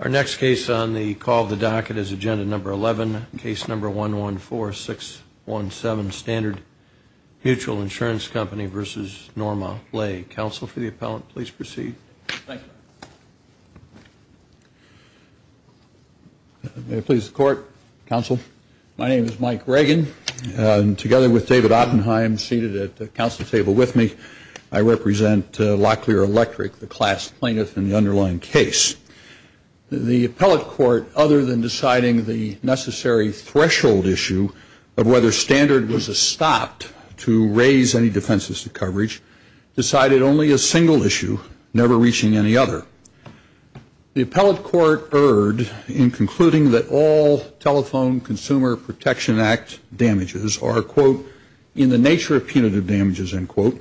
Our next case on the call of the docket is Agenda 11, Case 114617, Standard Mutual Insurance Company v. Norma Lay. Counsel for the appellant, please proceed. Thank you. May it please the Court, Counsel. My name is Mike Reagan. Together with David Oppenheim, seated at the Counsel's Table with me, I represent Locklear Electric, the class plaintiff in the underlying case. The appellate court, other than deciding the necessary threshold issue of whether standard was a stop to raise any defenses to coverage, decided only a single issue, never reaching any other. The appellate court erred in concluding that all Telephone Consumer Protection Act damages are, quote, in the nature of punitive damages, end quote,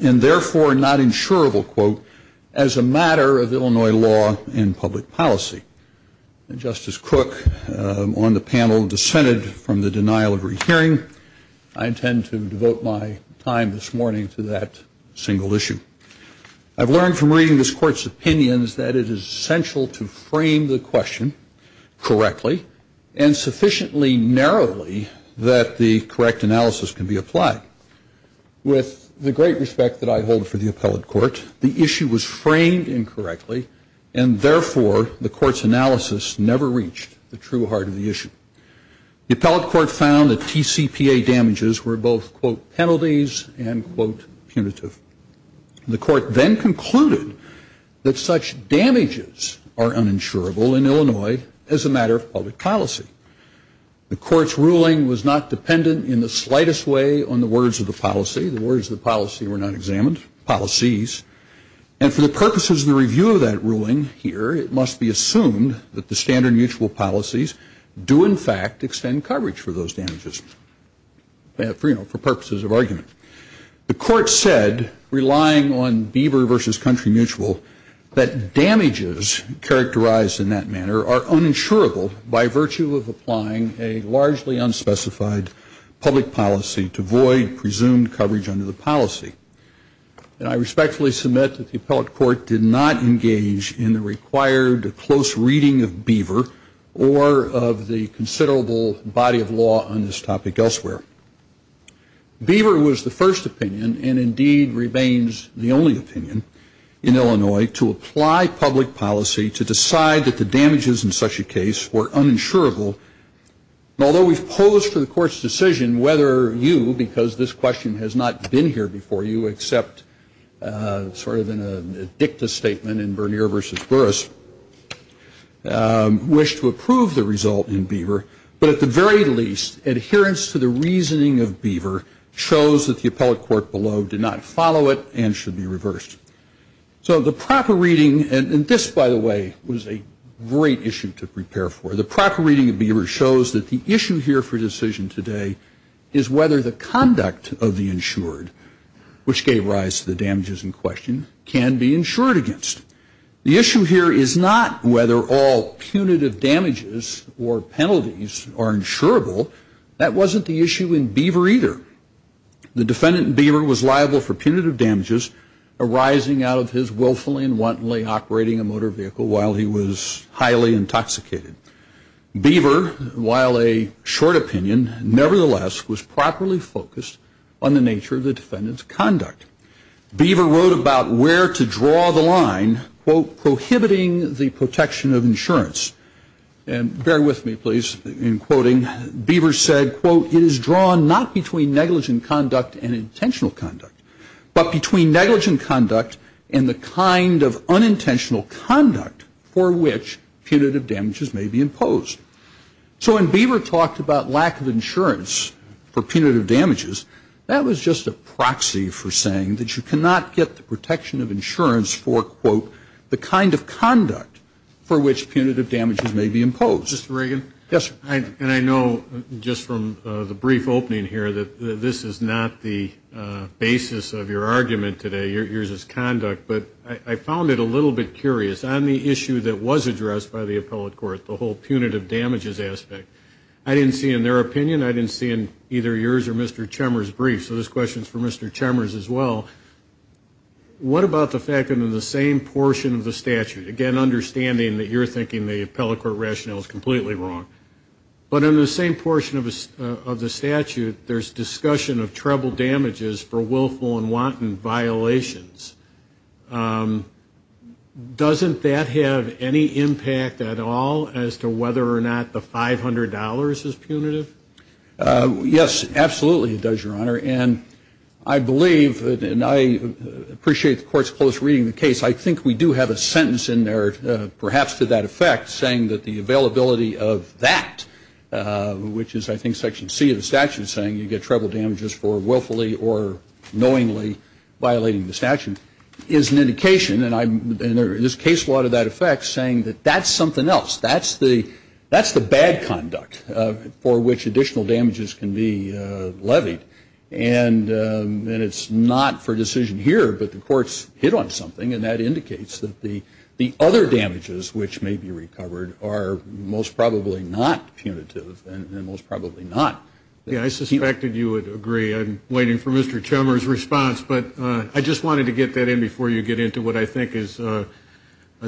and therefore not insurable, quote, as a matter of Illinois law and public policy. And Justice Crook, on the panel, dissented from the denial of rehearing. I intend to devote my time this morning to that single issue. I've learned from reading this Court's opinions that it is essential to frame the question correctly and sufficiently narrowly that the correct analysis can be applied. With the great respect that I hold for the appellate court, the issue was framed incorrectly, and therefore the Court's analysis never reached the true heart of the issue. The appellate court found that TCPA damages were both, quote, penalties and, quote, punitive. The Court then concluded that such damages are uninsurable in Illinois as a matter of public policy. The Court's ruling was not dependent in the slightest way on the words of the policy. The words of the policy were not examined, policies, and for the purposes of the review of that ruling here, it must be assumed that the standard mutual policies do, in fact, extend coverage for those damages, you know, for purposes of argument. The Court said, relying on Beaver versus country mutual, that damages characterized in that manner are uninsurable by virtue of applying a largely unspecified public policy to void presumed coverage under the policy. And I respectfully submit that the appellate court did not engage in the required close reading of Beaver or of the considerable body of law on this topic elsewhere. Beaver was the first opinion and, indeed, remains the only opinion in Illinois to apply public policy to decide that the damages in such a case were uninsurable. Although we've posed for the Court's decision whether you, because this question has not been here before you, except sort of in a dicta statement in Vernier versus Burris, wish to approve the result in Beaver, but at the very least, adherence to the reasoning of Beaver shows that the appellate court below did not follow it and should be reversed. So the proper reading, and this, by the way, was a great issue to prepare for, the proper reading of Beaver shows that the issue here for decision today is whether the conduct of the insured, which gave rise to the damages in question, can be insured against. The issue here is not whether all punitive damages or penalties are insurable. That wasn't the issue in Beaver either. The defendant in Beaver was liable for punitive damages arising out of his willfully and wantonly operating a motor vehicle while he was highly intoxicated. Beaver, while a short opinion, nevertheless, was properly focused on the nature of the defendant's conduct. Beaver wrote about where to draw the line, quote, prohibiting the protection of insurance. And bear with me, please, in quoting. Beaver said, quote, it is drawn not between negligent conduct and intentional conduct, but between negligent conduct and the kind of unintentional conduct for which punitive damages may be imposed. So when Beaver talked about lack of insurance for punitive damages, that was just a proxy for saying that you cannot get the protection of insurance for, quote, the kind of conduct for which punitive damages may be imposed. Mr. Reagan? Yes, sir. And I know just from the brief opening here that this is not the basis of your argument today, yours is conduct. But I found it a little bit curious. On the issue that was addressed by the appellate court, the whole punitive damages aspect, I didn't see in their opinion, I didn't see in either yours or Mr. Chemer's brief. So this question is for Mr. Chemer's as well. What about the fact that in the same portion of the statute, again, understanding that you're thinking the appellate court rationale is completely wrong, but in the same portion of the statute there's discussion of treble damages for willful and wanton violations. Doesn't that have any impact at all as to whether or not the $500 is punitive? Yes, absolutely it does, Your Honor. And I believe, and I appreciate the court's close reading of the case, I think we do have a sentence in there perhaps to that effect saying that the availability of that, which is I think section C of the statute saying you get treble damages for willfully or knowingly violating the statute is an indication, and there is case law to that effect, saying that that's something else. That's the bad conduct for which additional damages can be levied. And it's not for decision here, but the court's hit on something, and that indicates that the other damages which may be recovered are most probably not punitive, and most probably not. Yeah, I suspected you would agree. I'm waiting for Mr. Chummer's response, but I just wanted to get that in before you get into what I think is a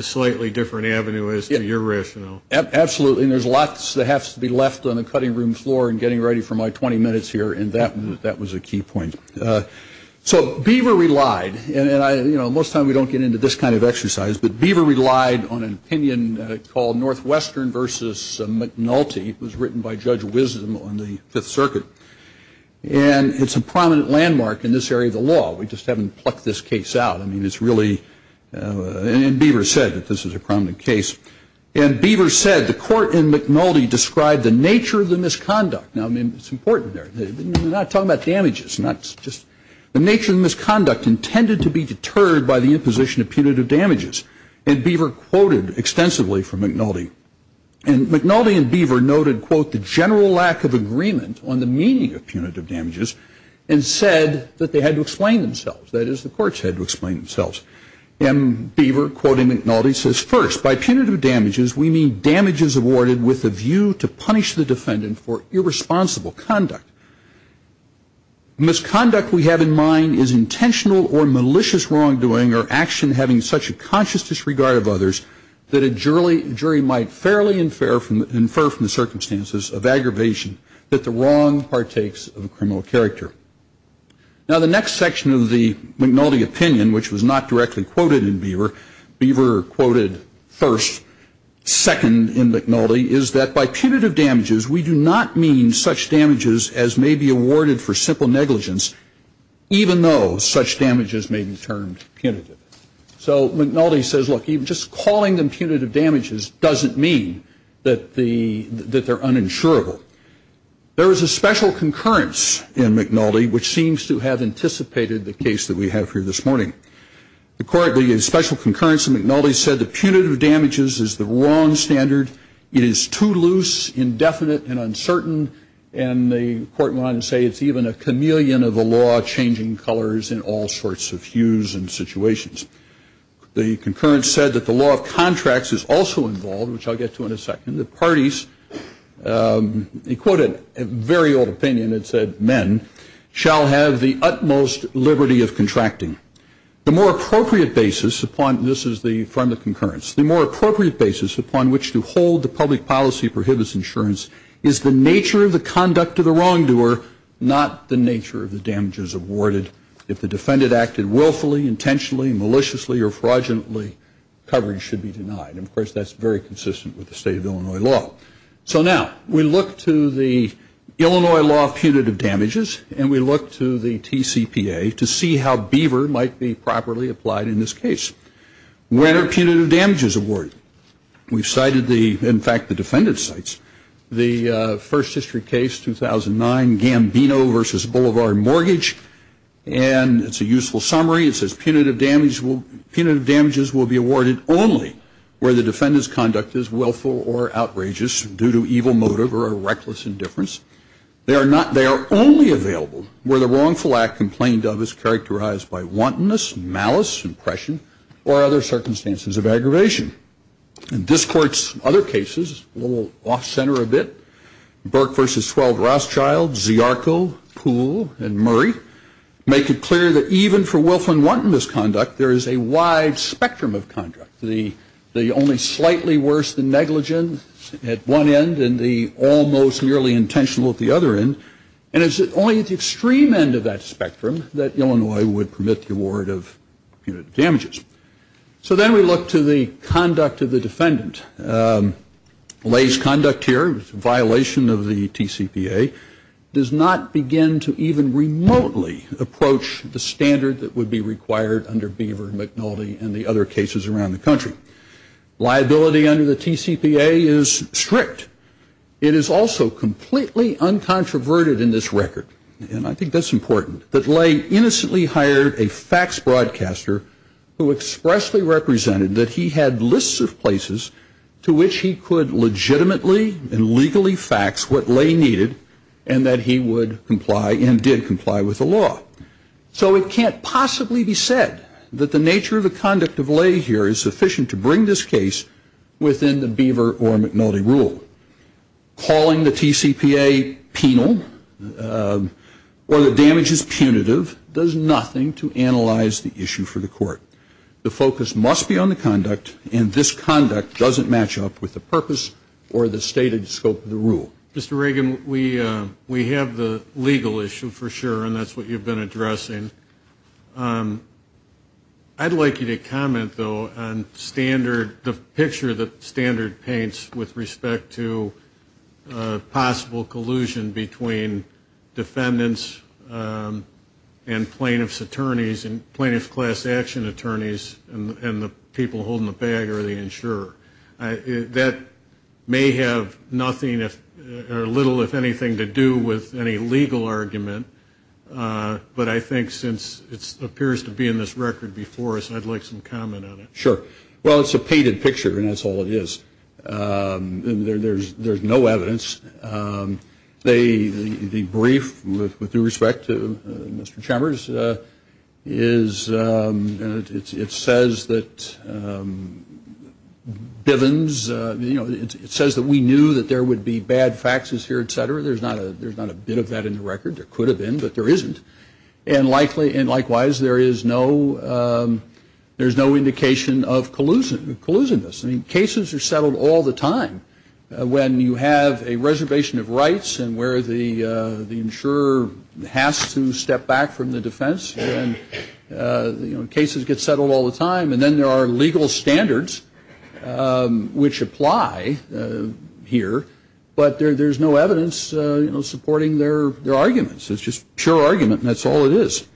slightly different avenue as to your rationale. Absolutely. And there's lots that have to be left on the cutting room floor and getting ready for my 20 minutes here, and that was a key point. So Beaver relied, and most of the time we don't get into this kind of exercise, but Beaver relied on an opinion called Northwestern v. McNulty. It was written by Judge Wisdom on the Fifth Circuit, and it's a prominent landmark in this area of the law. We just haven't plucked this case out. I mean, it's really, and Beaver said that this is a prominent case, and Beaver said the court in McNulty described the nature of the misconduct. Now, I mean, it's important there. We're not talking about damages. It's not just the nature of the misconduct intended to be deterred by the imposition of punitive damages, and Beaver quoted extensively from McNulty. And McNulty and Beaver noted, quote, the general lack of agreement on the meaning of punitive damages and said that they had to explain themselves. That is, the courts had to explain themselves. And Beaver, quoting McNulty, says, First, by punitive damages we mean damages awarded with a view to punish the defendant for irresponsible conduct. Misconduct we have in mind is intentional or malicious wrongdoing or action having such a conscious disregard of others that a jury might fairly infer from the circumstances of aggravation that the wrong partakes of a criminal character. Now, the next section of the McNulty opinion, which was not directly quoted in Beaver, Beaver quoted first, second in McNulty, is that by punitive damages we do not mean such damages as may be awarded for simple negligence, even though such damages may be termed punitive. So McNulty says, look, just calling them punitive damages doesn't mean that they're uninsurable. There is a special concurrence in McNulty which seems to have anticipated the case that we have here this morning. The special concurrence in McNulty said that punitive damages is the wrong standard. It is too loose, indefinite, and uncertain. And the court went on to say it's even a chameleon of a law changing colors in all sorts of hues and situations. The concurrence said that the law of contracts is also involved, which I'll get to in a second, that parties, he quoted a very old opinion, it said men, shall have the utmost liberty of contracting. The more appropriate basis upon, this is from the concurrence, the more appropriate basis upon which to hold the public policy prohibits insurance is the nature of the conduct of the wrongdoer, not the nature of the damages awarded. If the defendant acted willfully, intentionally, maliciously, or fraudulently, coverage should be denied. And, of course, that's very consistent with the state of Illinois law. So now we look to the Illinois law of punitive damages, and we look to the TCPA to see how Beaver might be properly applied in this case. When are punitive damages awarded? We've cited the, in fact, the defendant's sites. The first history case, 2009, Gambino v. Boulevard Mortgage, and it's a useful summary. It says punitive damages will be awarded only where the defendant's conduct is willful or outrageous due to evil motive or a reckless indifference. They are only available where the wrongful act complained of is characterized by wantonness, malice, impression, or other circumstances of aggravation. In this court's other cases, a little off-center a bit, Burke v. Swell-Rothschild, Ziarco, Poole, and Murray, make it clear that even for willful and wanton misconduct, there is a wide spectrum of conduct, the only slightly worse, the negligent at one end, and the almost merely intentional at the other end. And it's only at the extreme end of that spectrum that Illinois would permit the award of punitive damages. So then we look to the conduct of the defendant. Lays conduct here, violation of the TCPA, does not begin to even remotely approach the standard that would be required under Beaver, McNulty, and the other cases around the country. Liability under the TCPA is strict. It is also completely uncontroverted in this record, and I think that's important, that Lay innocently hired a fax broadcaster who expressly represented that he had lists of places to which he could legitimately and legally fax what Lay needed and that he would comply and did comply with the law. So it can't possibly be said that the nature of the conduct of Lay here is sufficient to bring this case within the Beaver or McNulty rule. Calling the TCPA penal or the damages punitive does nothing to analyze the issue for the court. The focus must be on the conduct, and this conduct doesn't match up with the purpose or the stated scope of the rule. Mr. Reagan, we have the legal issue for sure, and that's what you've been addressing. I'd like you to comment, though, on standard, the picture that standard paints with respect to possible collusion between defendants and plaintiff's attorneys and plaintiff's class action attorneys and the people holding the bag or the insurer. That may have nothing or little, if anything, to do with any legal argument, but I think since it appears to be in this record before us, I'd like some comment on it. Sure. Well, it's a painted picture, and that's all it is. There's no evidence. The brief, with due respect to Mr. Chambers, it says that Bivens, you know, it says that we knew that there would be bad faxes here, et cetera. There's not a bit of that in the record. There could have been, but there isn't. And likewise, there is no indication of collusion. I mean, cases are settled all the time when you have a reservation of rights and where the insurer has to step back from the defense. You know, cases get settled all the time, and then there are legal standards which apply here, but there's no evidence, you know, supporting their arguments. It's just pure argument, and that's all it is.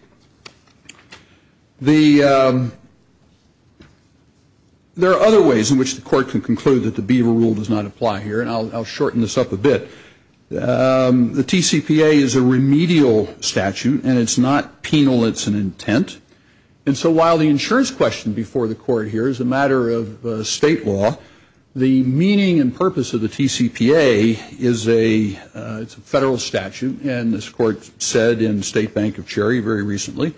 There are other ways in which the court can conclude that the Beaver Rule does not apply here, and I'll shorten this up a bit. The TCPA is a remedial statute, and it's not penal. It's an intent. And so while the insurance question before the court here is a matter of state law, the meaning and purpose of the TCPA is a federal statute, and this court said in State Bank of Cherry very recently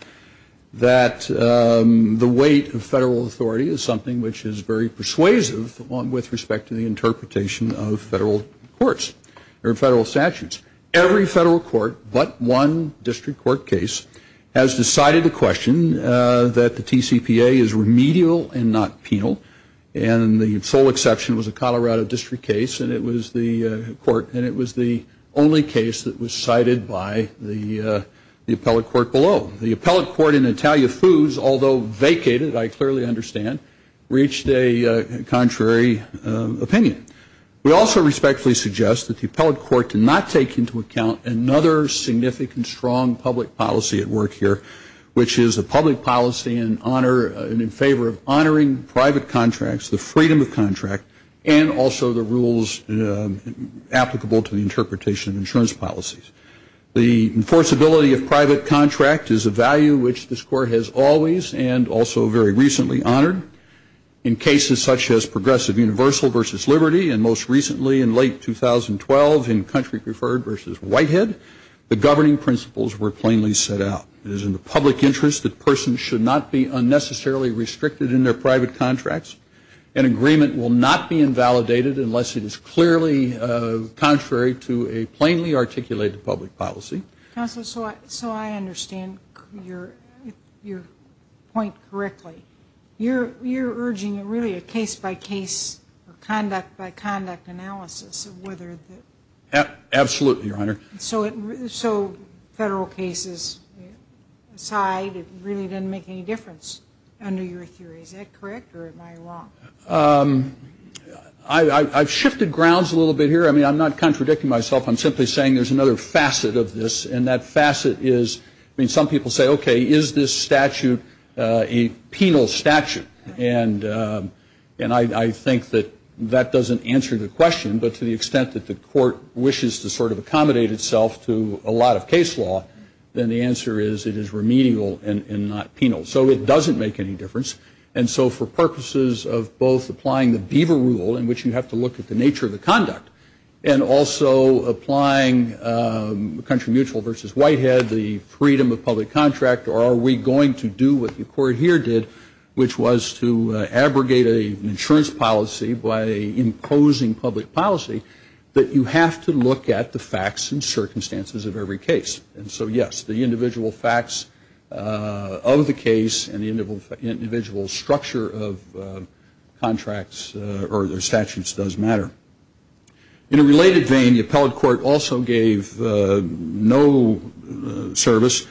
that the weight of federal authority is something which is very persuasive with respect to the interpretation of federal courts or federal statutes. Every federal court but one district court case has decided to question that the TCPA is remedial and not penal, and the sole exception was a Colorado District case, and it was the court and it was the only case that was cited by the appellate court below. The appellate court in Italia Foods, although vacated, I clearly understand, reached a contrary opinion. We also respectfully suggest that the appellate court do not take into account another significant, strong public policy at work here, which is a public policy in honor and in favor of honoring private contracts, the freedom of contract, and also the rules applicable to the interpretation of insurance policies. The enforceability of private contract is a value which this court has always and also very recently honored. In cases such as Progressive Universal versus Liberty and most recently in late 2012 in Country Preferred versus Whitehead, the governing principles were plainly set out. It is in the public interest that persons should not be unnecessarily restricted in their private contracts. An agreement will not be invalidated unless it is clearly contrary to a plainly articulated public policy. Counselor, so I understand your point correctly. You're urging really a case-by-case or conduct-by-conduct analysis of whether the ---- Absolutely, Your Honor. So federal cases aside, it really doesn't make any difference under your theory. Is that correct or am I wrong? I've shifted grounds a little bit here. I mean, I'm not contradicting myself. I'm simply saying there's another facet of this, and that facet is, I mean, some people say, okay, is this statute a penal statute? And I think that that doesn't answer the question, but to the extent that the court wishes to sort of accommodate itself to a lot of case law, then the answer is it is remedial and not penal. So it doesn't make any difference. And so for purposes of both applying the Beaver Rule, in which you have to look at the nature of the conduct, and also applying Country Mutual versus Whitehead, the freedom of public contract, or are we going to do what the court here did, which was to abrogate an insurance policy by imposing public policy, that you have to look at the facts and circumstances of every case. And so, yes, the individual facts of the case and the individual structure of contracts or their statutes does matter. In a related vein, the appellate court also gave no service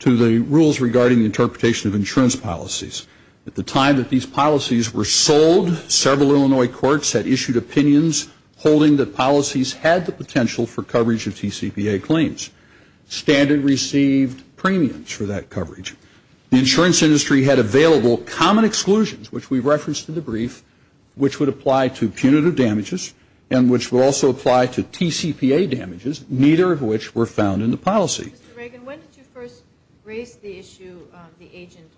to the rules regarding the interpretation of insurance policies. At the time that these policies were sold, several Illinois courts had issued opinions holding that policies had the potential for coverage of TCPA claims. Standard received premiums for that coverage. The insurance industry had available common exclusions, which we referenced in the brief, which would apply to punitive damages and which would also apply to TCPA damages, neither of which were found in the policy. Mr. Reagan, when did you first raise the issue of the agent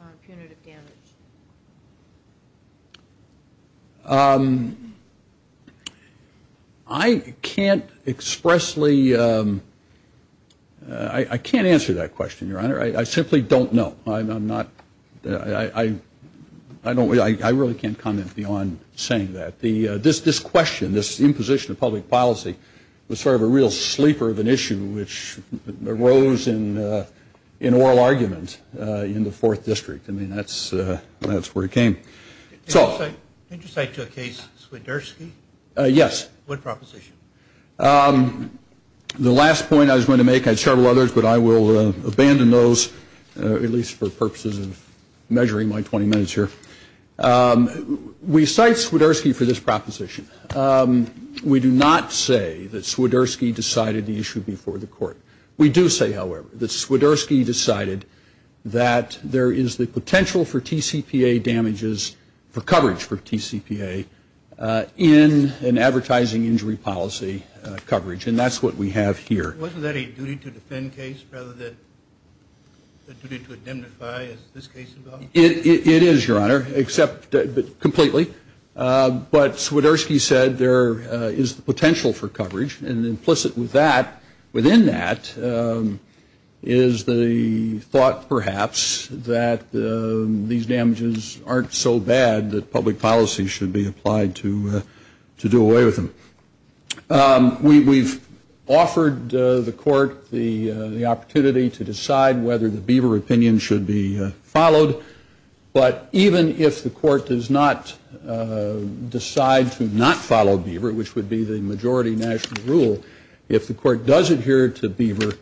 of punitive damage? I can't expressly – I can't answer that question, Your Honor. I simply don't know. I'm not – I don't – I really can't comment beyond saying that. This question, this imposition of public policy, was sort of a real sleeper of an issue, which arose in oral argument in the Fourth District. I mean, that's where it came. Did you cite to a case Swiderski? Yes. What proposition? The last point I was going to make – I had several others, but I will abandon those, at least for purposes of measuring my 20 minutes here. We cite Swiderski for this proposition. We do not say that Swiderski decided the issue before the court. We do say, however, that Swiderski decided that there is the potential for TCPA damages, for coverage for TCPA, in an advertising injury policy coverage. And that's what we have here. Wasn't that a duty-to-defend case rather than a duty-to-identify, as this case involves? It is, Your Honor, except completely. But Swiderski said there is the potential for coverage. And implicit within that is the thought, perhaps, that these damages aren't so bad that public policy should be applied to do away with them. We've offered the court the opportunity to decide whether the Beaver opinion should be followed. But even if the court does not decide to not follow Beaver, which would be the majority national rule, if the court does adhere to Beaver,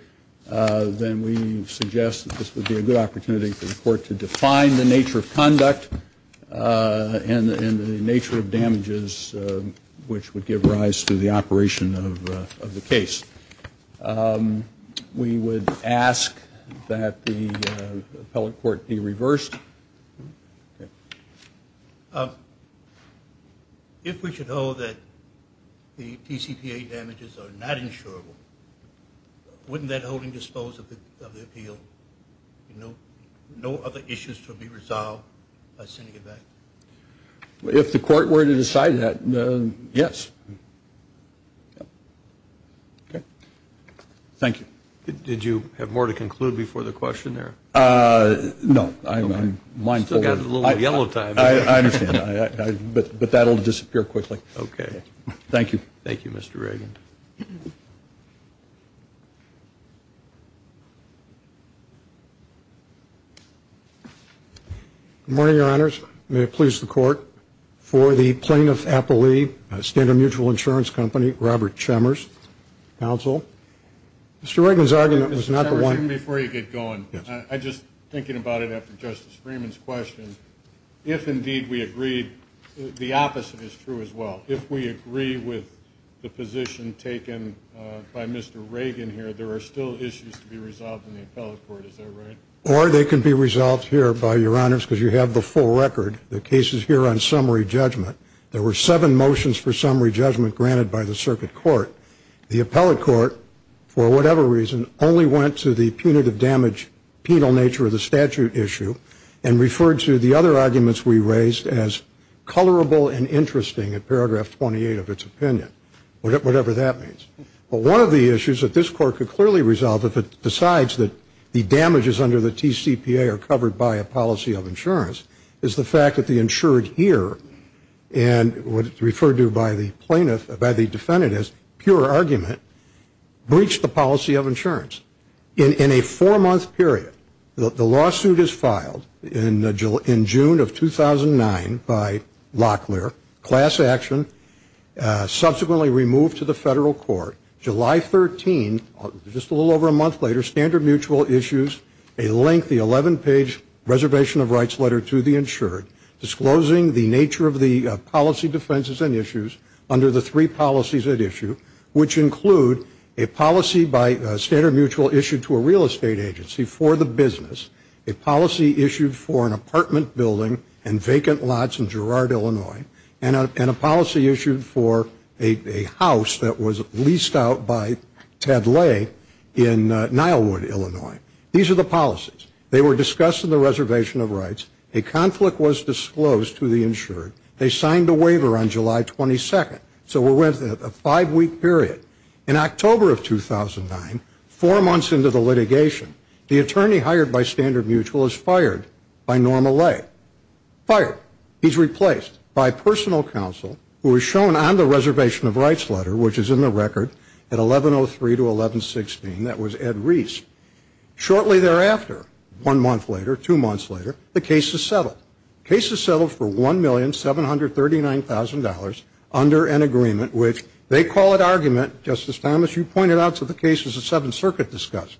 then we suggest that this would be a good opportunity for the court to define the nature of conduct and the nature of damages which would give rise to the operation of the case. We would ask that the appellate court be reversed. If we should hold that the TCPA damages are not insurable, wouldn't that hold indisposable of the appeal? No other issues to be resolved by sending it back? If the court were to decide that, yes. Thank you. Did you have more to conclude before the question there? No. I'm mindful. Still got a little yellow time. I understand. But that will disappear quickly. Okay. Thank you. Thank you, Mr. Reagan. Good morning, Your Honors. May it please the Court. For the plaintiff's appellee, Standard Mutual Insurance Company, Robert Chemers, counsel. Mr. Reagan's argument was not the one. Mr. Chemers, even before you get going, I'm just thinking about it after Justice Freeman's question. If, indeed, we agree, the opposite is true as well. If we agree with the position taken by Mr. Reagan here, there are still issues to be resolved in the appellate court. Is that right? Or they can be resolved here, Your Honors, because you have the full record. The case is here on summary judgment. There were seven motions for summary judgment granted by the circuit court. The appellate court, for whatever reason, only went to the punitive damage penal nature of the statute issue and referred to the other arguments we raised as colorable and interesting at paragraph 28 of its opinion, whatever that means. But one of the issues that this court could clearly resolve, if it decides that the damages under the TCPA are covered by a policy of insurance, is the fact that the insured here and what is referred to by the plaintiff, by the defendant as pure argument, breached the policy of insurance. In a four-month period, the lawsuit is filed in June of 2009 by Locklear, class action, subsequently removed to the federal court. July 13, just a little over a month later, Standard Mutual issues a lengthy 11-page reservation of rights letter to the insured, disclosing the nature of the policy defenses and issues under the three policies at issue, which include a policy by Standard Mutual issued to a real estate agency for the business, a policy issued for an apartment building and vacant lots in Girard, Illinois, and a policy issued for a house that was leased out by Ted Lay in Nilewood, Illinois. These are the policies. They were discussed in the reservation of rights. A conflict was disclosed to the insured. They signed a waiver on July 22nd. So we're within a five-week period. In October of 2009, four months into the litigation, the attorney hired by Standard Mutual is fired by Norma Lay. Fired. He's replaced by personal counsel, who is shown on the reservation of rights letter, which is in the record at 1103 to 1116, that was Ed Reese. Shortly thereafter, one month later, two months later, the case is settled. The case is settled for $1,739,000 under an agreement, which they call it argument, Justice Thomas, you pointed out to the cases the Seventh Circuit discussed,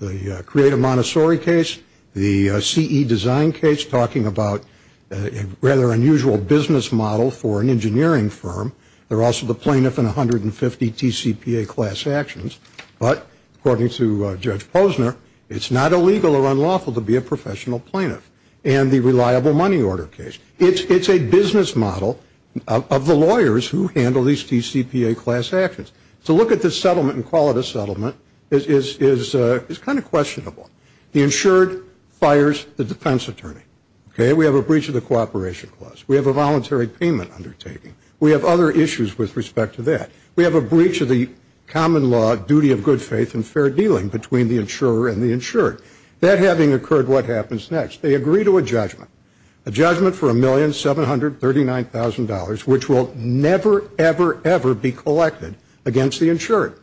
the Creative Montessori case, the CE design case talking about a rather unusual business model for an engineering firm. They're also the plaintiff in 150 TCPA class actions. But according to Judge Posner, it's not illegal or unlawful to be a professional plaintiff. And the reliable money order case. It's a business model of the lawyers who handle these TCPA class actions. So look at this settlement and call it a settlement. It's kind of questionable. The insured fires the defense attorney. We have a breach of the cooperation clause. We have a voluntary payment undertaking. We have other issues with respect to that. We have a breach of the common law duty of good faith and fair dealing between the insurer and the insured. That having occurred, what happens next? They agree to a judgment, a judgment for $1,739,000, which will never, ever, ever be collected against the insured.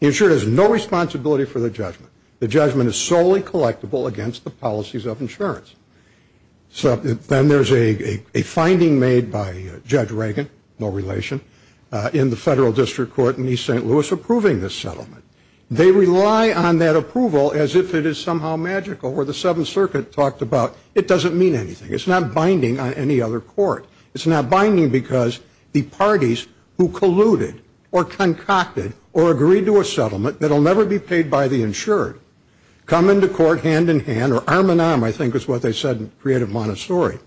The insured has no responsibility for the judgment. The judgment is solely collectible against the policies of insurance. So then there's a finding made by Judge Reagan, no relation, in the Federal District Court in East St. Louis approving this settlement. They rely on that approval as if it is somehow magical. Where the Seventh Circuit talked about it doesn't mean anything. It's not binding on any other court. It's not binding because the parties who colluded or concocted or agreed to a settlement that will never be paid by the insured come into court hand-in-hand, or arm-in-arm, I think is what they said in Creative Montessori.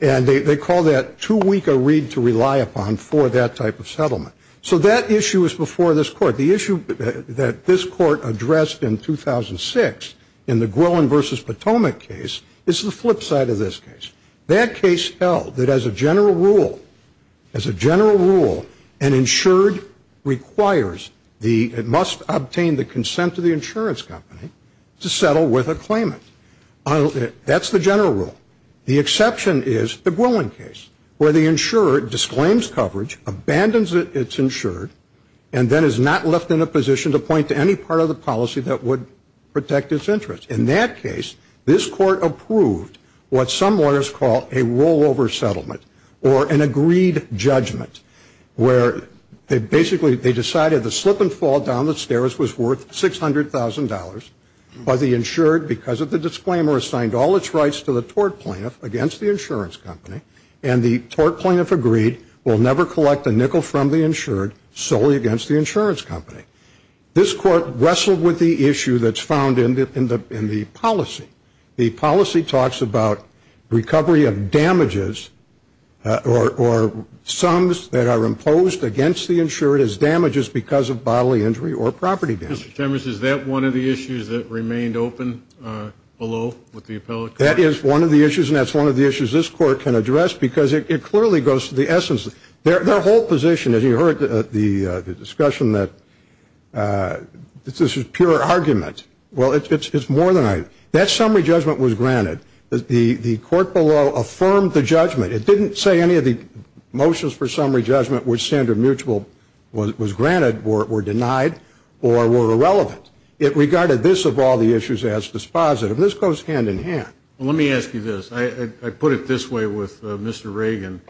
And they call that too weak a read to rely upon for that type of settlement. So that issue is before this court. The issue that this court addressed in 2006 in the Groen v. Potomac case is the flip side of this case. That case held that as a general rule, as a general rule, an insured requires the, it must obtain the consent of the insurance company to settle with a claimant. That's the general rule. The exception is the Gwilin case where the insurer disclaims coverage, abandons its insured, and then is not left in a position to point to any part of the policy that would protect its interest. In that case, this court approved what some lawyers call a rollover settlement or an agreed judgment where basically they decided the slip and fall down the stairs was worth $600,000, but the insured, because of the disclaimer, assigned all its rights to the tort plaintiff against the insurance company, and the tort plaintiff agreed will never collect a nickel from the insured solely against the insurance company. This court wrestled with the issue that's found in the policy. The policy talks about recovery of damages or sums that are imposed against the insured as damages because of bodily injury or property damage. Mr. Chemers, is that one of the issues that remained open below with the appellate court? That is one of the issues, and that's one of the issues this court can address because it clearly goes to the essence. Their whole position, as you heard the discussion that this is pure argument, well, it's more than that. That summary judgment was granted. The court below affirmed the judgment. It didn't say any of the motions for summary judgment were standard mutual, was granted, were denied, or were irrelevant. It regarded this of all the issues as dispositive, and this goes hand in hand. Well, let me ask you this. I put it this way with Mr. Reagan,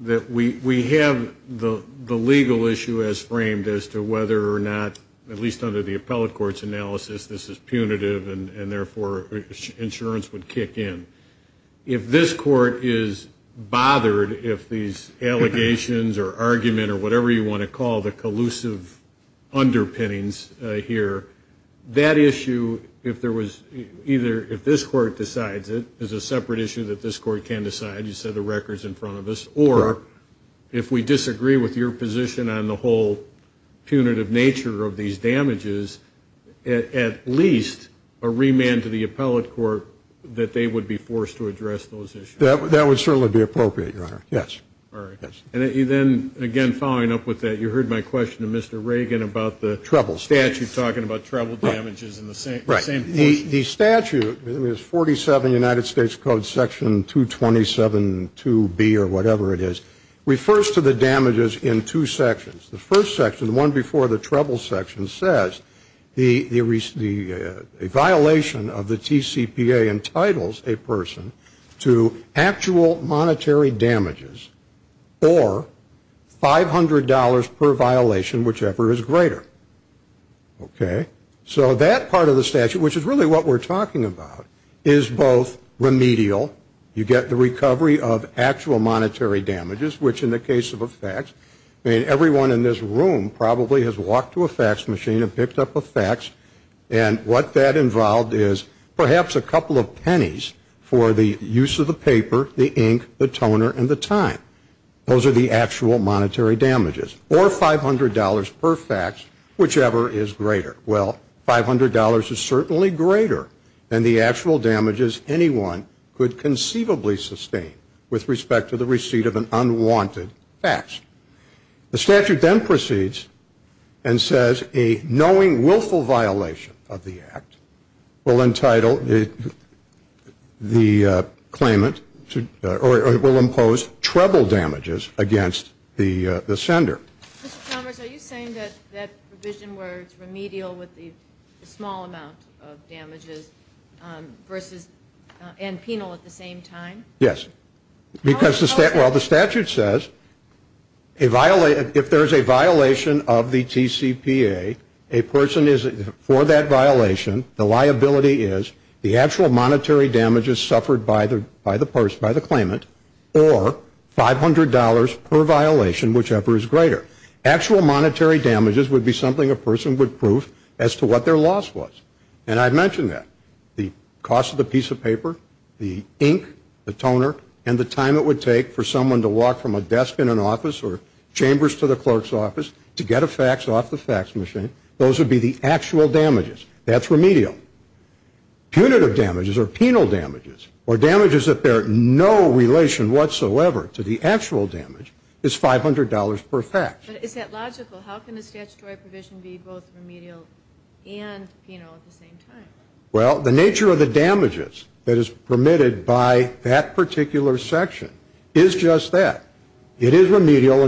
that we have the legal issue as framed as to whether or not, at least under the appellate court's analysis, this is punitive and, therefore, insurance would kick in. If this court is bothered if these allegations or argument or whatever you want to call the collusive underpinnings here, that issue, if this court decides it, is a separate issue that this court can decide. You said the record's in front of us. Or if we disagree with your position on the whole punitive nature of these damages, at least a remand to the appellate court that they would be forced to address those issues. That would certainly be appropriate, Your Honor. Yes. All right. And then, again, following up with that, you heard my question to Mr. Reagan about the statute talking about treble damages. Right. The statute, 47 United States Code Section 227.2b or whatever it is, refers to the damages in two sections. The first section, the one before the treble section, the violation of the TCPA entitles a person to actual monetary damages or $500 per violation, whichever is greater. Okay. So that part of the statute, which is really what we're talking about, is both remedial, you get the recovery of actual monetary damages, which in the case of a fax, I mean, everyone in this room probably has walked to a fax machine and picked up a fax, and what that involved is perhaps a couple of pennies for the use of the paper, the ink, the toner, and the time. Those are the actual monetary damages. Or $500 per fax, whichever is greater. Well, $500 is certainly greater than the actual damages anyone could conceivably sustain with respect to the receipt of an unwanted fax. The statute then proceeds and says a knowing willful violation of the act will entitle the claimant or will impose treble damages against the sender. Mr. Chalmers, are you saying that that provision where it's remedial with the small amount of damages versus and penal at the same time? Yes. Because the statute says if there's a violation of the TCPA, a person is for that violation, the liability is the actual monetary damages suffered by the person, by the claimant, or $500 per violation, whichever is greater. Actual monetary damages would be something a person would prove as to what their loss was. And I mentioned that. The cost of the piece of paper, the ink, the toner, and the time it would take for someone to walk from a desk in an office or chambers to the clerk's office to get a fax off the fax machine, those would be the actual damages. That's remedial. Punitive damages or penal damages or damages that there are no relation whatsoever to the actual damage is $500 per fax. But is that logical? How can a statutory provision be both remedial and penal at the same time? Well, the nature of the damages that is permitted by that particular section is just that. It is remedial.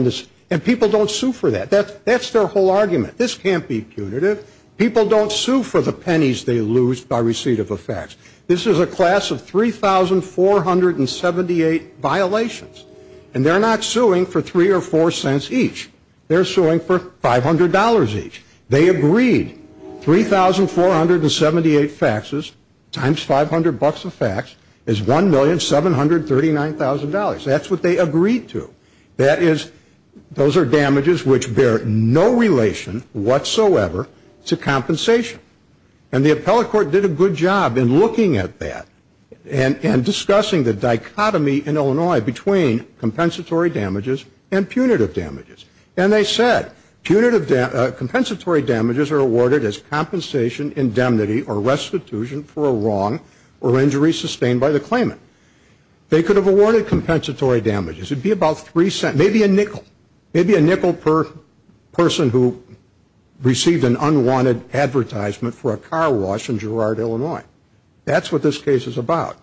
And people don't sue for that. That's their whole argument. This can't be punitive. People don't sue for the pennies they lose by receipt of a fax. This is a class of 3,478 violations. And they're not suing for 3 or 4 cents each. They're suing for $500 each. They agreed 3,478 faxes times 500 bucks a fax is $1,739,000. That's what they agreed to. That is, those are damages which bear no relation whatsoever to compensation. And the appellate court did a good job in looking at that and discussing the dichotomy in Illinois between compensatory damages and punitive damages. And they said compensatory damages are awarded as compensation, indemnity, or restitution for a wrong or injury sustained by the claimant. They could have awarded compensatory damages. It would be about 3 cents, maybe a nickel. Maybe a nickel per person who received an unwanted advertisement for a car wash in Girard, Illinois. That's what this case is about.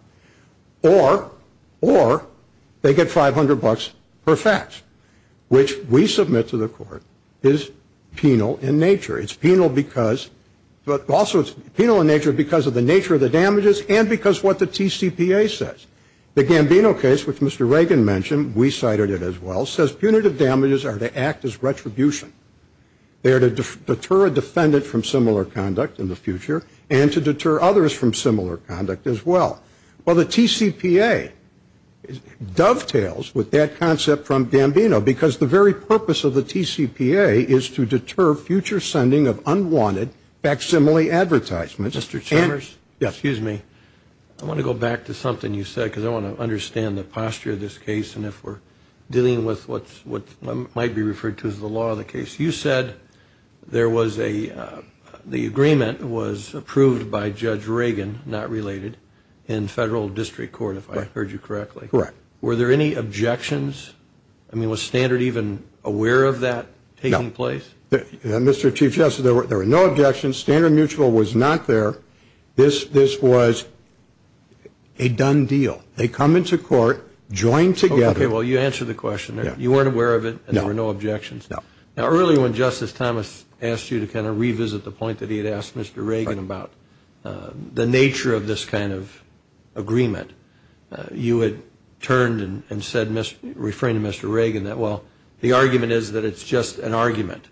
Or they get 500 bucks per fax, which we submit to the court is penal in nature. It's penal because of the nature of the damages and because of what the TCPA says. The Gambino case, which Mr. Reagan mentioned, we cited it as well, says punitive damages are to act as retribution. They are to deter a defendant from similar conduct in the future and to deter others from similar conduct as well. Well, the TCPA dovetails with that concept from Gambino because the very purpose of the TCPA is to deter future sending of unwanted facsimile advertisements. Mr. Chambers? Yes. Excuse me. I want to go back to something you said because I want to understand the posture of this case and if we're dealing with what might be referred to as the law of the case. You said the agreement was approved by Judge Reagan, not related, in federal district court, if I heard you correctly. Correct. Were there any objections? I mean, was Standard even aware of that taking place? No. Mr. Chief Justice, there were no objections. Standard Mutual was not there. This was a done deal. They come into court, join together. Okay. Well, you answered the question. You weren't aware of it. No. And there were no objections. No. Now, earlier when Justice Thomas asked you to kind of revisit the point that he had asked Mr. Reagan about the nature of this kind of agreement, you had turned and said, referring to Mr. Reagan, that, well, the argument is that it's just an argument.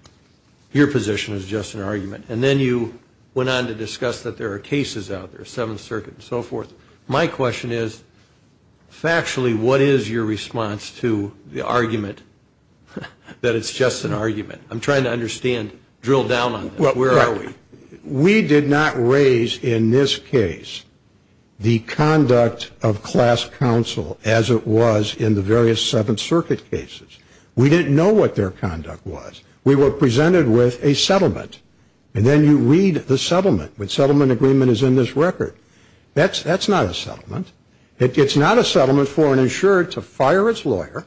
Your position is just an argument. And then you went on to discuss that there are cases out there, Seventh Circuit and so forth. My question is, factually, what is your response to the argument that it's just an argument? I'm trying to understand, drill down on that. Where are we? We did not raise in this case the conduct of class counsel as it was in the various Seventh Circuit cases. We didn't know what their conduct was. We were presented with a settlement. And then you read the settlement. The settlement agreement is in this record. That's not a settlement. It's not a settlement for an insured to fire its lawyer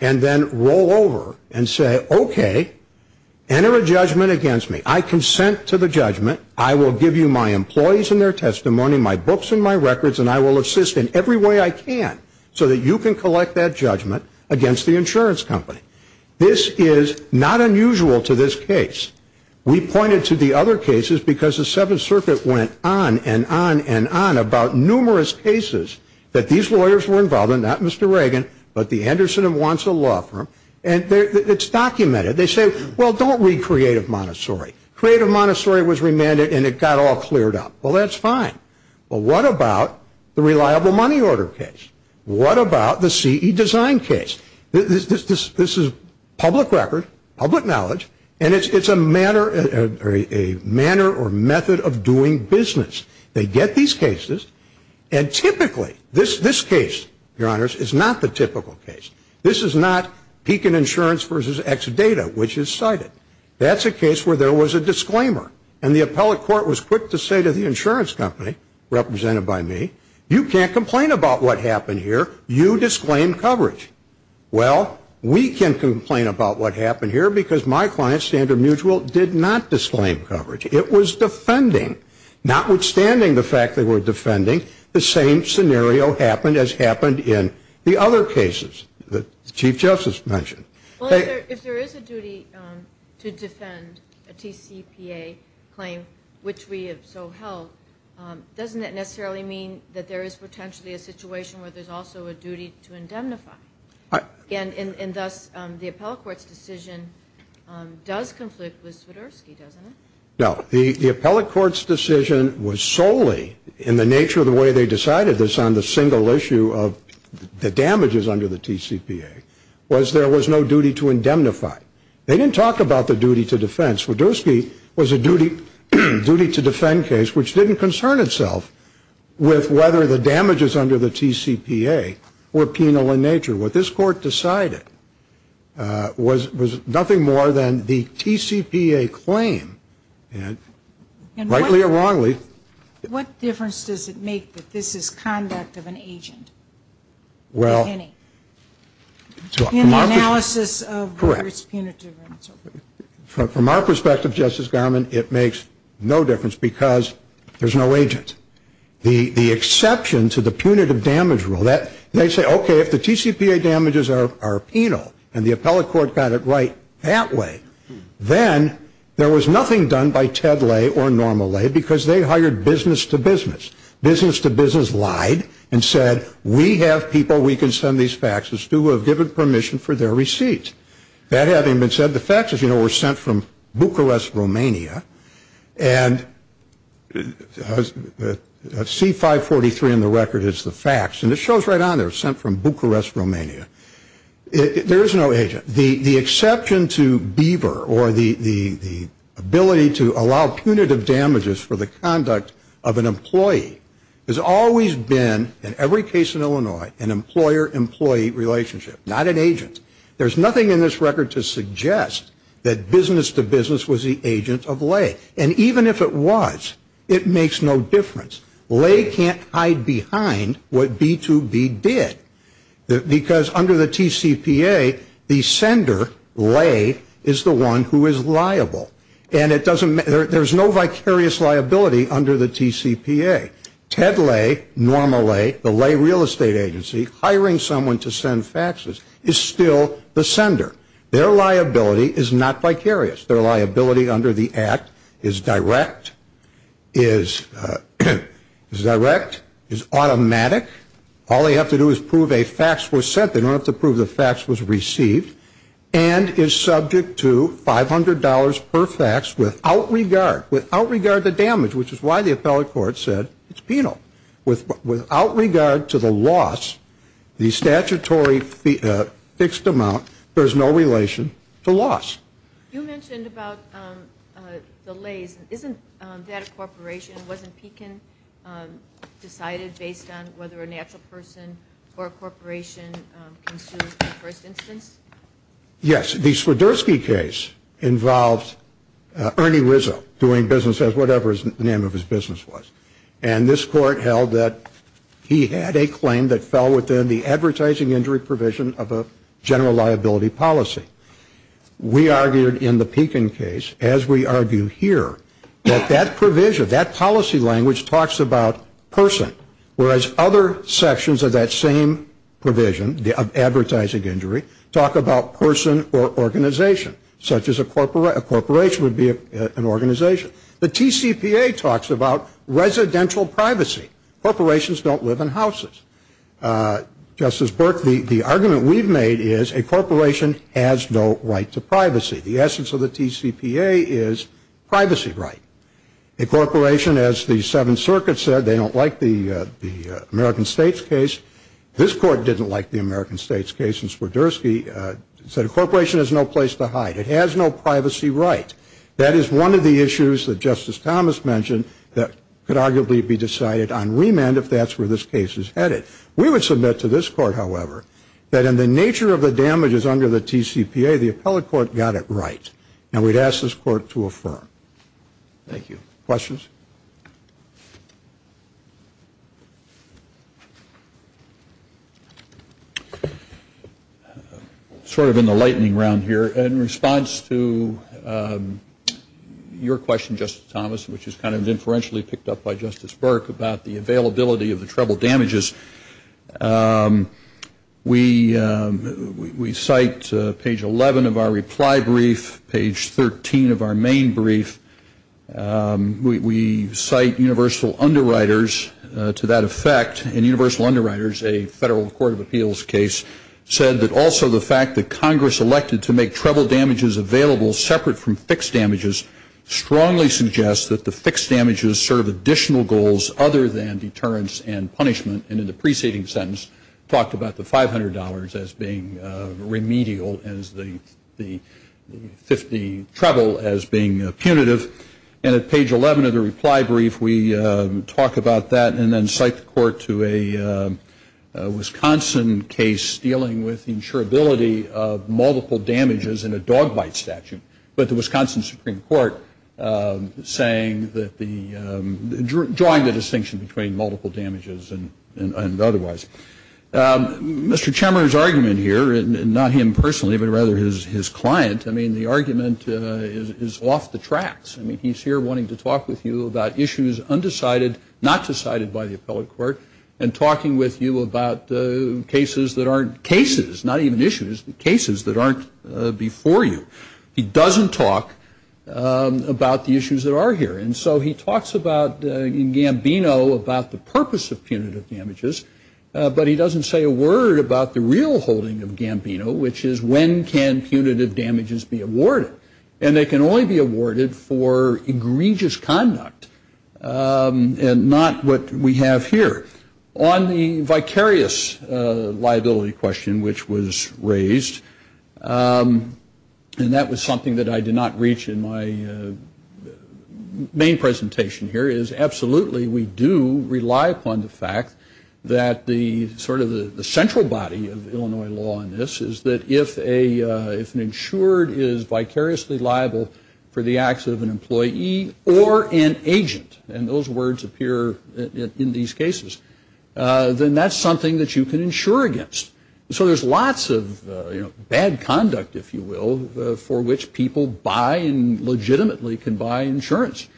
and then roll over and say, okay, enter a judgment against me. I consent to the judgment. I will give you my employees and their testimony, my books and my records, and I will assist in every way I can so that you can collect that judgment against the insurance company. This is not unusual to this case. We pointed to the other cases because the Seventh Circuit went on and on and on about numerous cases that these lawyers were involved in, not Mr. Reagan, but the Anderson and Wonsall law firm. And it's documented. They say, well, don't read Creative Montessori. Creative Montessori was remanded and it got all cleared up. Well, that's fine. But what about the reliable money order case? What about the CE design case? This is public record, public knowledge, and it's a manner or method of doing business. They get these cases, and typically this case, Your Honors, is not the typical case. This is not Pekin Insurance versus Exadata, which is cited. That's a case where there was a disclaimer, and the appellate court was quick to say to the insurance company, represented by me, you can't complain about what happened here. You disclaimed coverage. Well, we can complain about what happened here because my client, Standard Mutual, did not disclaim coverage. It was defending. Notwithstanding the fact they were defending, the same scenario happened as happened in the other cases that the Chief Justice mentioned. Well, if there is a duty to defend a TCPA claim, which we have so held, doesn't that necessarily mean that there is potentially a situation where there's also a duty to indemnify? And thus, the appellate court's decision does conflict with Swiderski, doesn't it? No. The appellate court's decision was solely, in the nature of the way they decided this on the single issue of the damages under the TCPA, was there was no duty to indemnify. They didn't talk about the duty to defense. Swiderski was a duty to defend case which didn't concern itself with whether the damages under the TCPA were penal in nature. What this court decided was nothing more than the TCPA claim, rightly or wrongly. What difference does it make that this is conduct of an agent? Well, from our perspective, Justice Garmon, it makes no difference because there's no agent. The exception to the punitive damage rule, they say, okay, if the TCPA damages are penal and the appellate court got it right that way, then there was nothing done by Ted Lay or Norma Lay because they hired business-to-business. Business-to-business lied and said, we have people we can send these faxes to who have given permission for their receipts. That having been said, the faxes, you know, were sent from Bucharest, Romania, and C-543 in the record is the fax, and it shows right on there, sent from Bucharest, Romania. There is no agent. The exception to Beaver or the ability to allow punitive damages for the conduct of an employee has always been, in every case in Illinois, an employer-employee relationship, not an agent. There's nothing in this record to suggest that business-to-business was the agent of Lay. And even if it was, it makes no difference. Lay can't hide behind what B-2B did. Because under the TCPA, the sender, Lay, is the one who is liable. And it doesn't matter, there's no vicarious liability under the TCPA. Ted Lay, Norma Lay, the Lay real estate agency, hiring someone to send faxes is still the sender. Their liability is not vicarious. Their liability under the Act is direct, is direct, is automatic. All they have to do is prove a fax was sent. They don't have to prove the fax was received, and is subject to $500 per fax without regard, without regard to damage, which is why the appellate court said it's penal. Without regard to the loss, the statutory fixed amount, there's no relation to loss. You mentioned about the Lays. Isn't that a corporation? Wasn't Pekin decided based on whether a natural person or a corporation can sue in the first instance? Yes. The Swiderski case involved Ernie Rizzo doing business as whatever the name of his business was. And this court held that he had a claim that fell within the advertising injury provision of a general liability policy. We argued in the Pekin case, as we argue here, that that provision, that policy language talks about person, whereas other sections of that same provision of advertising injury talk about person or organization, such as a corporation would be an organization. The TCPA talks about residential privacy. Corporations don't live in houses. Justice Burke, the argument we've made is a corporation has no right to privacy. The essence of the TCPA is privacy right. A corporation, as the Seventh Circuit said, they don't like the American States case. This court didn't like the American States case in Swiderski. It said a corporation has no place to hide. It has no privacy right. That is one of the issues that Justice Thomas mentioned that could arguably be decided on remand if that's where this case is headed. We would submit to this court, however, that in the nature of the damages under the TCPA, the appellate court got it right. And we'd ask this court to affirm. Thank you. Questions? Sort of in the lightning round here, in response to your question, Justice Thomas, which is kind of inferentially picked up by Justice Burke about the availability of the treble damages, we cite page 11 of our reply brief, page 13 of our main brief. We cite universal underwriters to that effect. And universal underwriters, a federal court of appeals case, said that also the fact that Congress elected to make treble damages available separate from fixed damages strongly suggests that the fixed damages serve additional goals other than deterrence and punishment. And in the preceding sentence talked about the $500 as being remedial and the treble as being punitive. And at page 11 of the reply brief, we talk about that and then cite the court to a Wisconsin case dealing with insurability of multiple damages in a dog bite statute. But the Wisconsin Supreme Court drawing the distinction between multiple damages and otherwise. Mr. Chemer's argument here, and not him personally, but rather his client, I mean, the argument is off the tracks. I mean, he's here wanting to talk with you about issues undecided, not decided by the appellate court, and talking with you about cases that aren't cases, not even issues, but cases that aren't before you. He doesn't talk about the issues that are here. And so he talks about, in Gambino, about the purpose of punitive damages, but he doesn't say a word about the real holding of Gambino, which is when can punitive damages be awarded. And they can only be awarded for egregious conduct and not what we have here. On the vicarious liability question which was raised, and that was something that I did not reach in my main presentation here, is absolutely we do rely upon the fact that the sort of the central body of Illinois law in this is that if an insured is vicariously liable for the acts of an employee or an agent, and those words appear in these cases, then that's something that you can insure against. So there's lots of bad conduct, if you will, for which people buy and legitimately can buy insurance.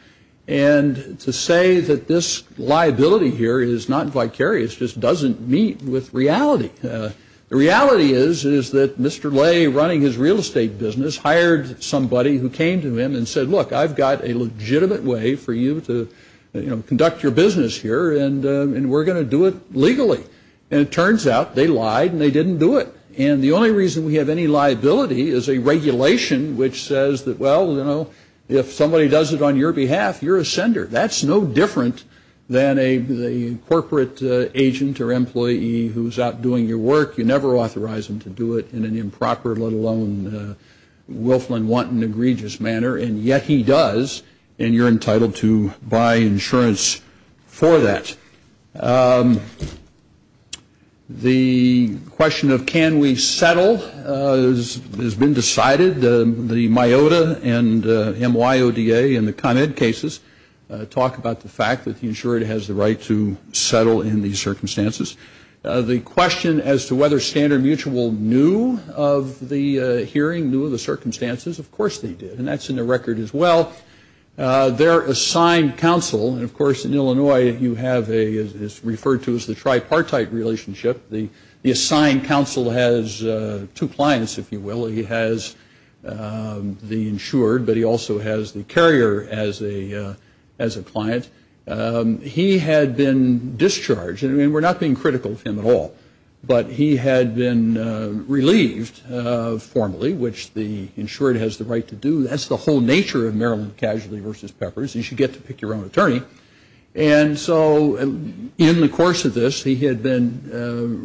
And to say that this liability here is not vicarious just doesn't meet with reality. The reality is that Mr. Lay, running his real estate business, hired somebody who came to him and said, look, I've got a legitimate way for you to conduct your business here, and we're going to do it legally. And it turns out they lied and they didn't do it. And the only reason we have any liability is a regulation which says that, well, you know, if somebody does it on your behalf, you're a sender. That's no different than a corporate agent or employee who's out doing your work. You never authorize them to do it in an improper, let alone willful and wanton, egregious manner. And yet he does, and you're entitled to buy insurance for that. The question of can we settle has been decided. The MIOTA and MYODA and the Con Ed cases talk about the fact that the insured has the right to settle in these circumstances. The question as to whether Standard Mutual knew of the hearing, knew of the circumstances, of course they did. And that's in the record as well. Their assigned counsel, and, of course, in Illinois you have what is referred to as the tripartite relationship. The assigned counsel has two clients, if you will. He has the insured, but he also has the carrier as a client. He had been discharged, and we're not being critical of him at all, but he had been relieved formally, which the insured has the right to do. That's the whole nature of Maryland Casualty v. Peppers. You should get to pick your own attorney. And so in the course of this he had been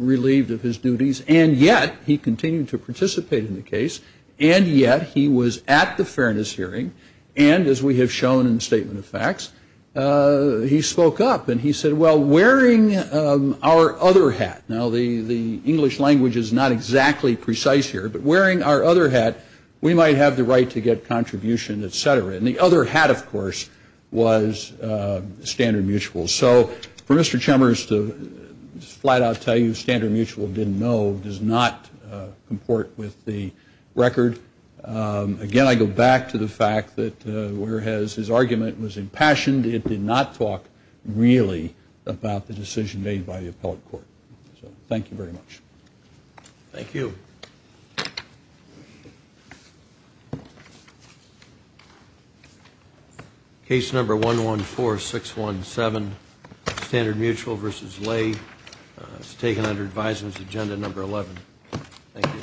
relieved of his duties, and yet he continued to participate in the case, and yet he was at the fairness hearing, and as we have shown in the statement of facts, he spoke up. And he said, well, wearing our other hat, now the English language is not exactly precise here, but wearing our other hat we might have the right to get contribution, et cetera. And the other hat, of course, was Standard Mutual. So for Mr. Chemers to flat out tell you Standard Mutual didn't know does not comport with the record. Again, I go back to the fact that whereas his argument was impassioned, it did not talk really about the decision made by the appellate court. So thank you very much. Thank you. Thank you. Case number 114617, Standard Mutual v. Lay, is taken under advisement agenda number 11. Thank you.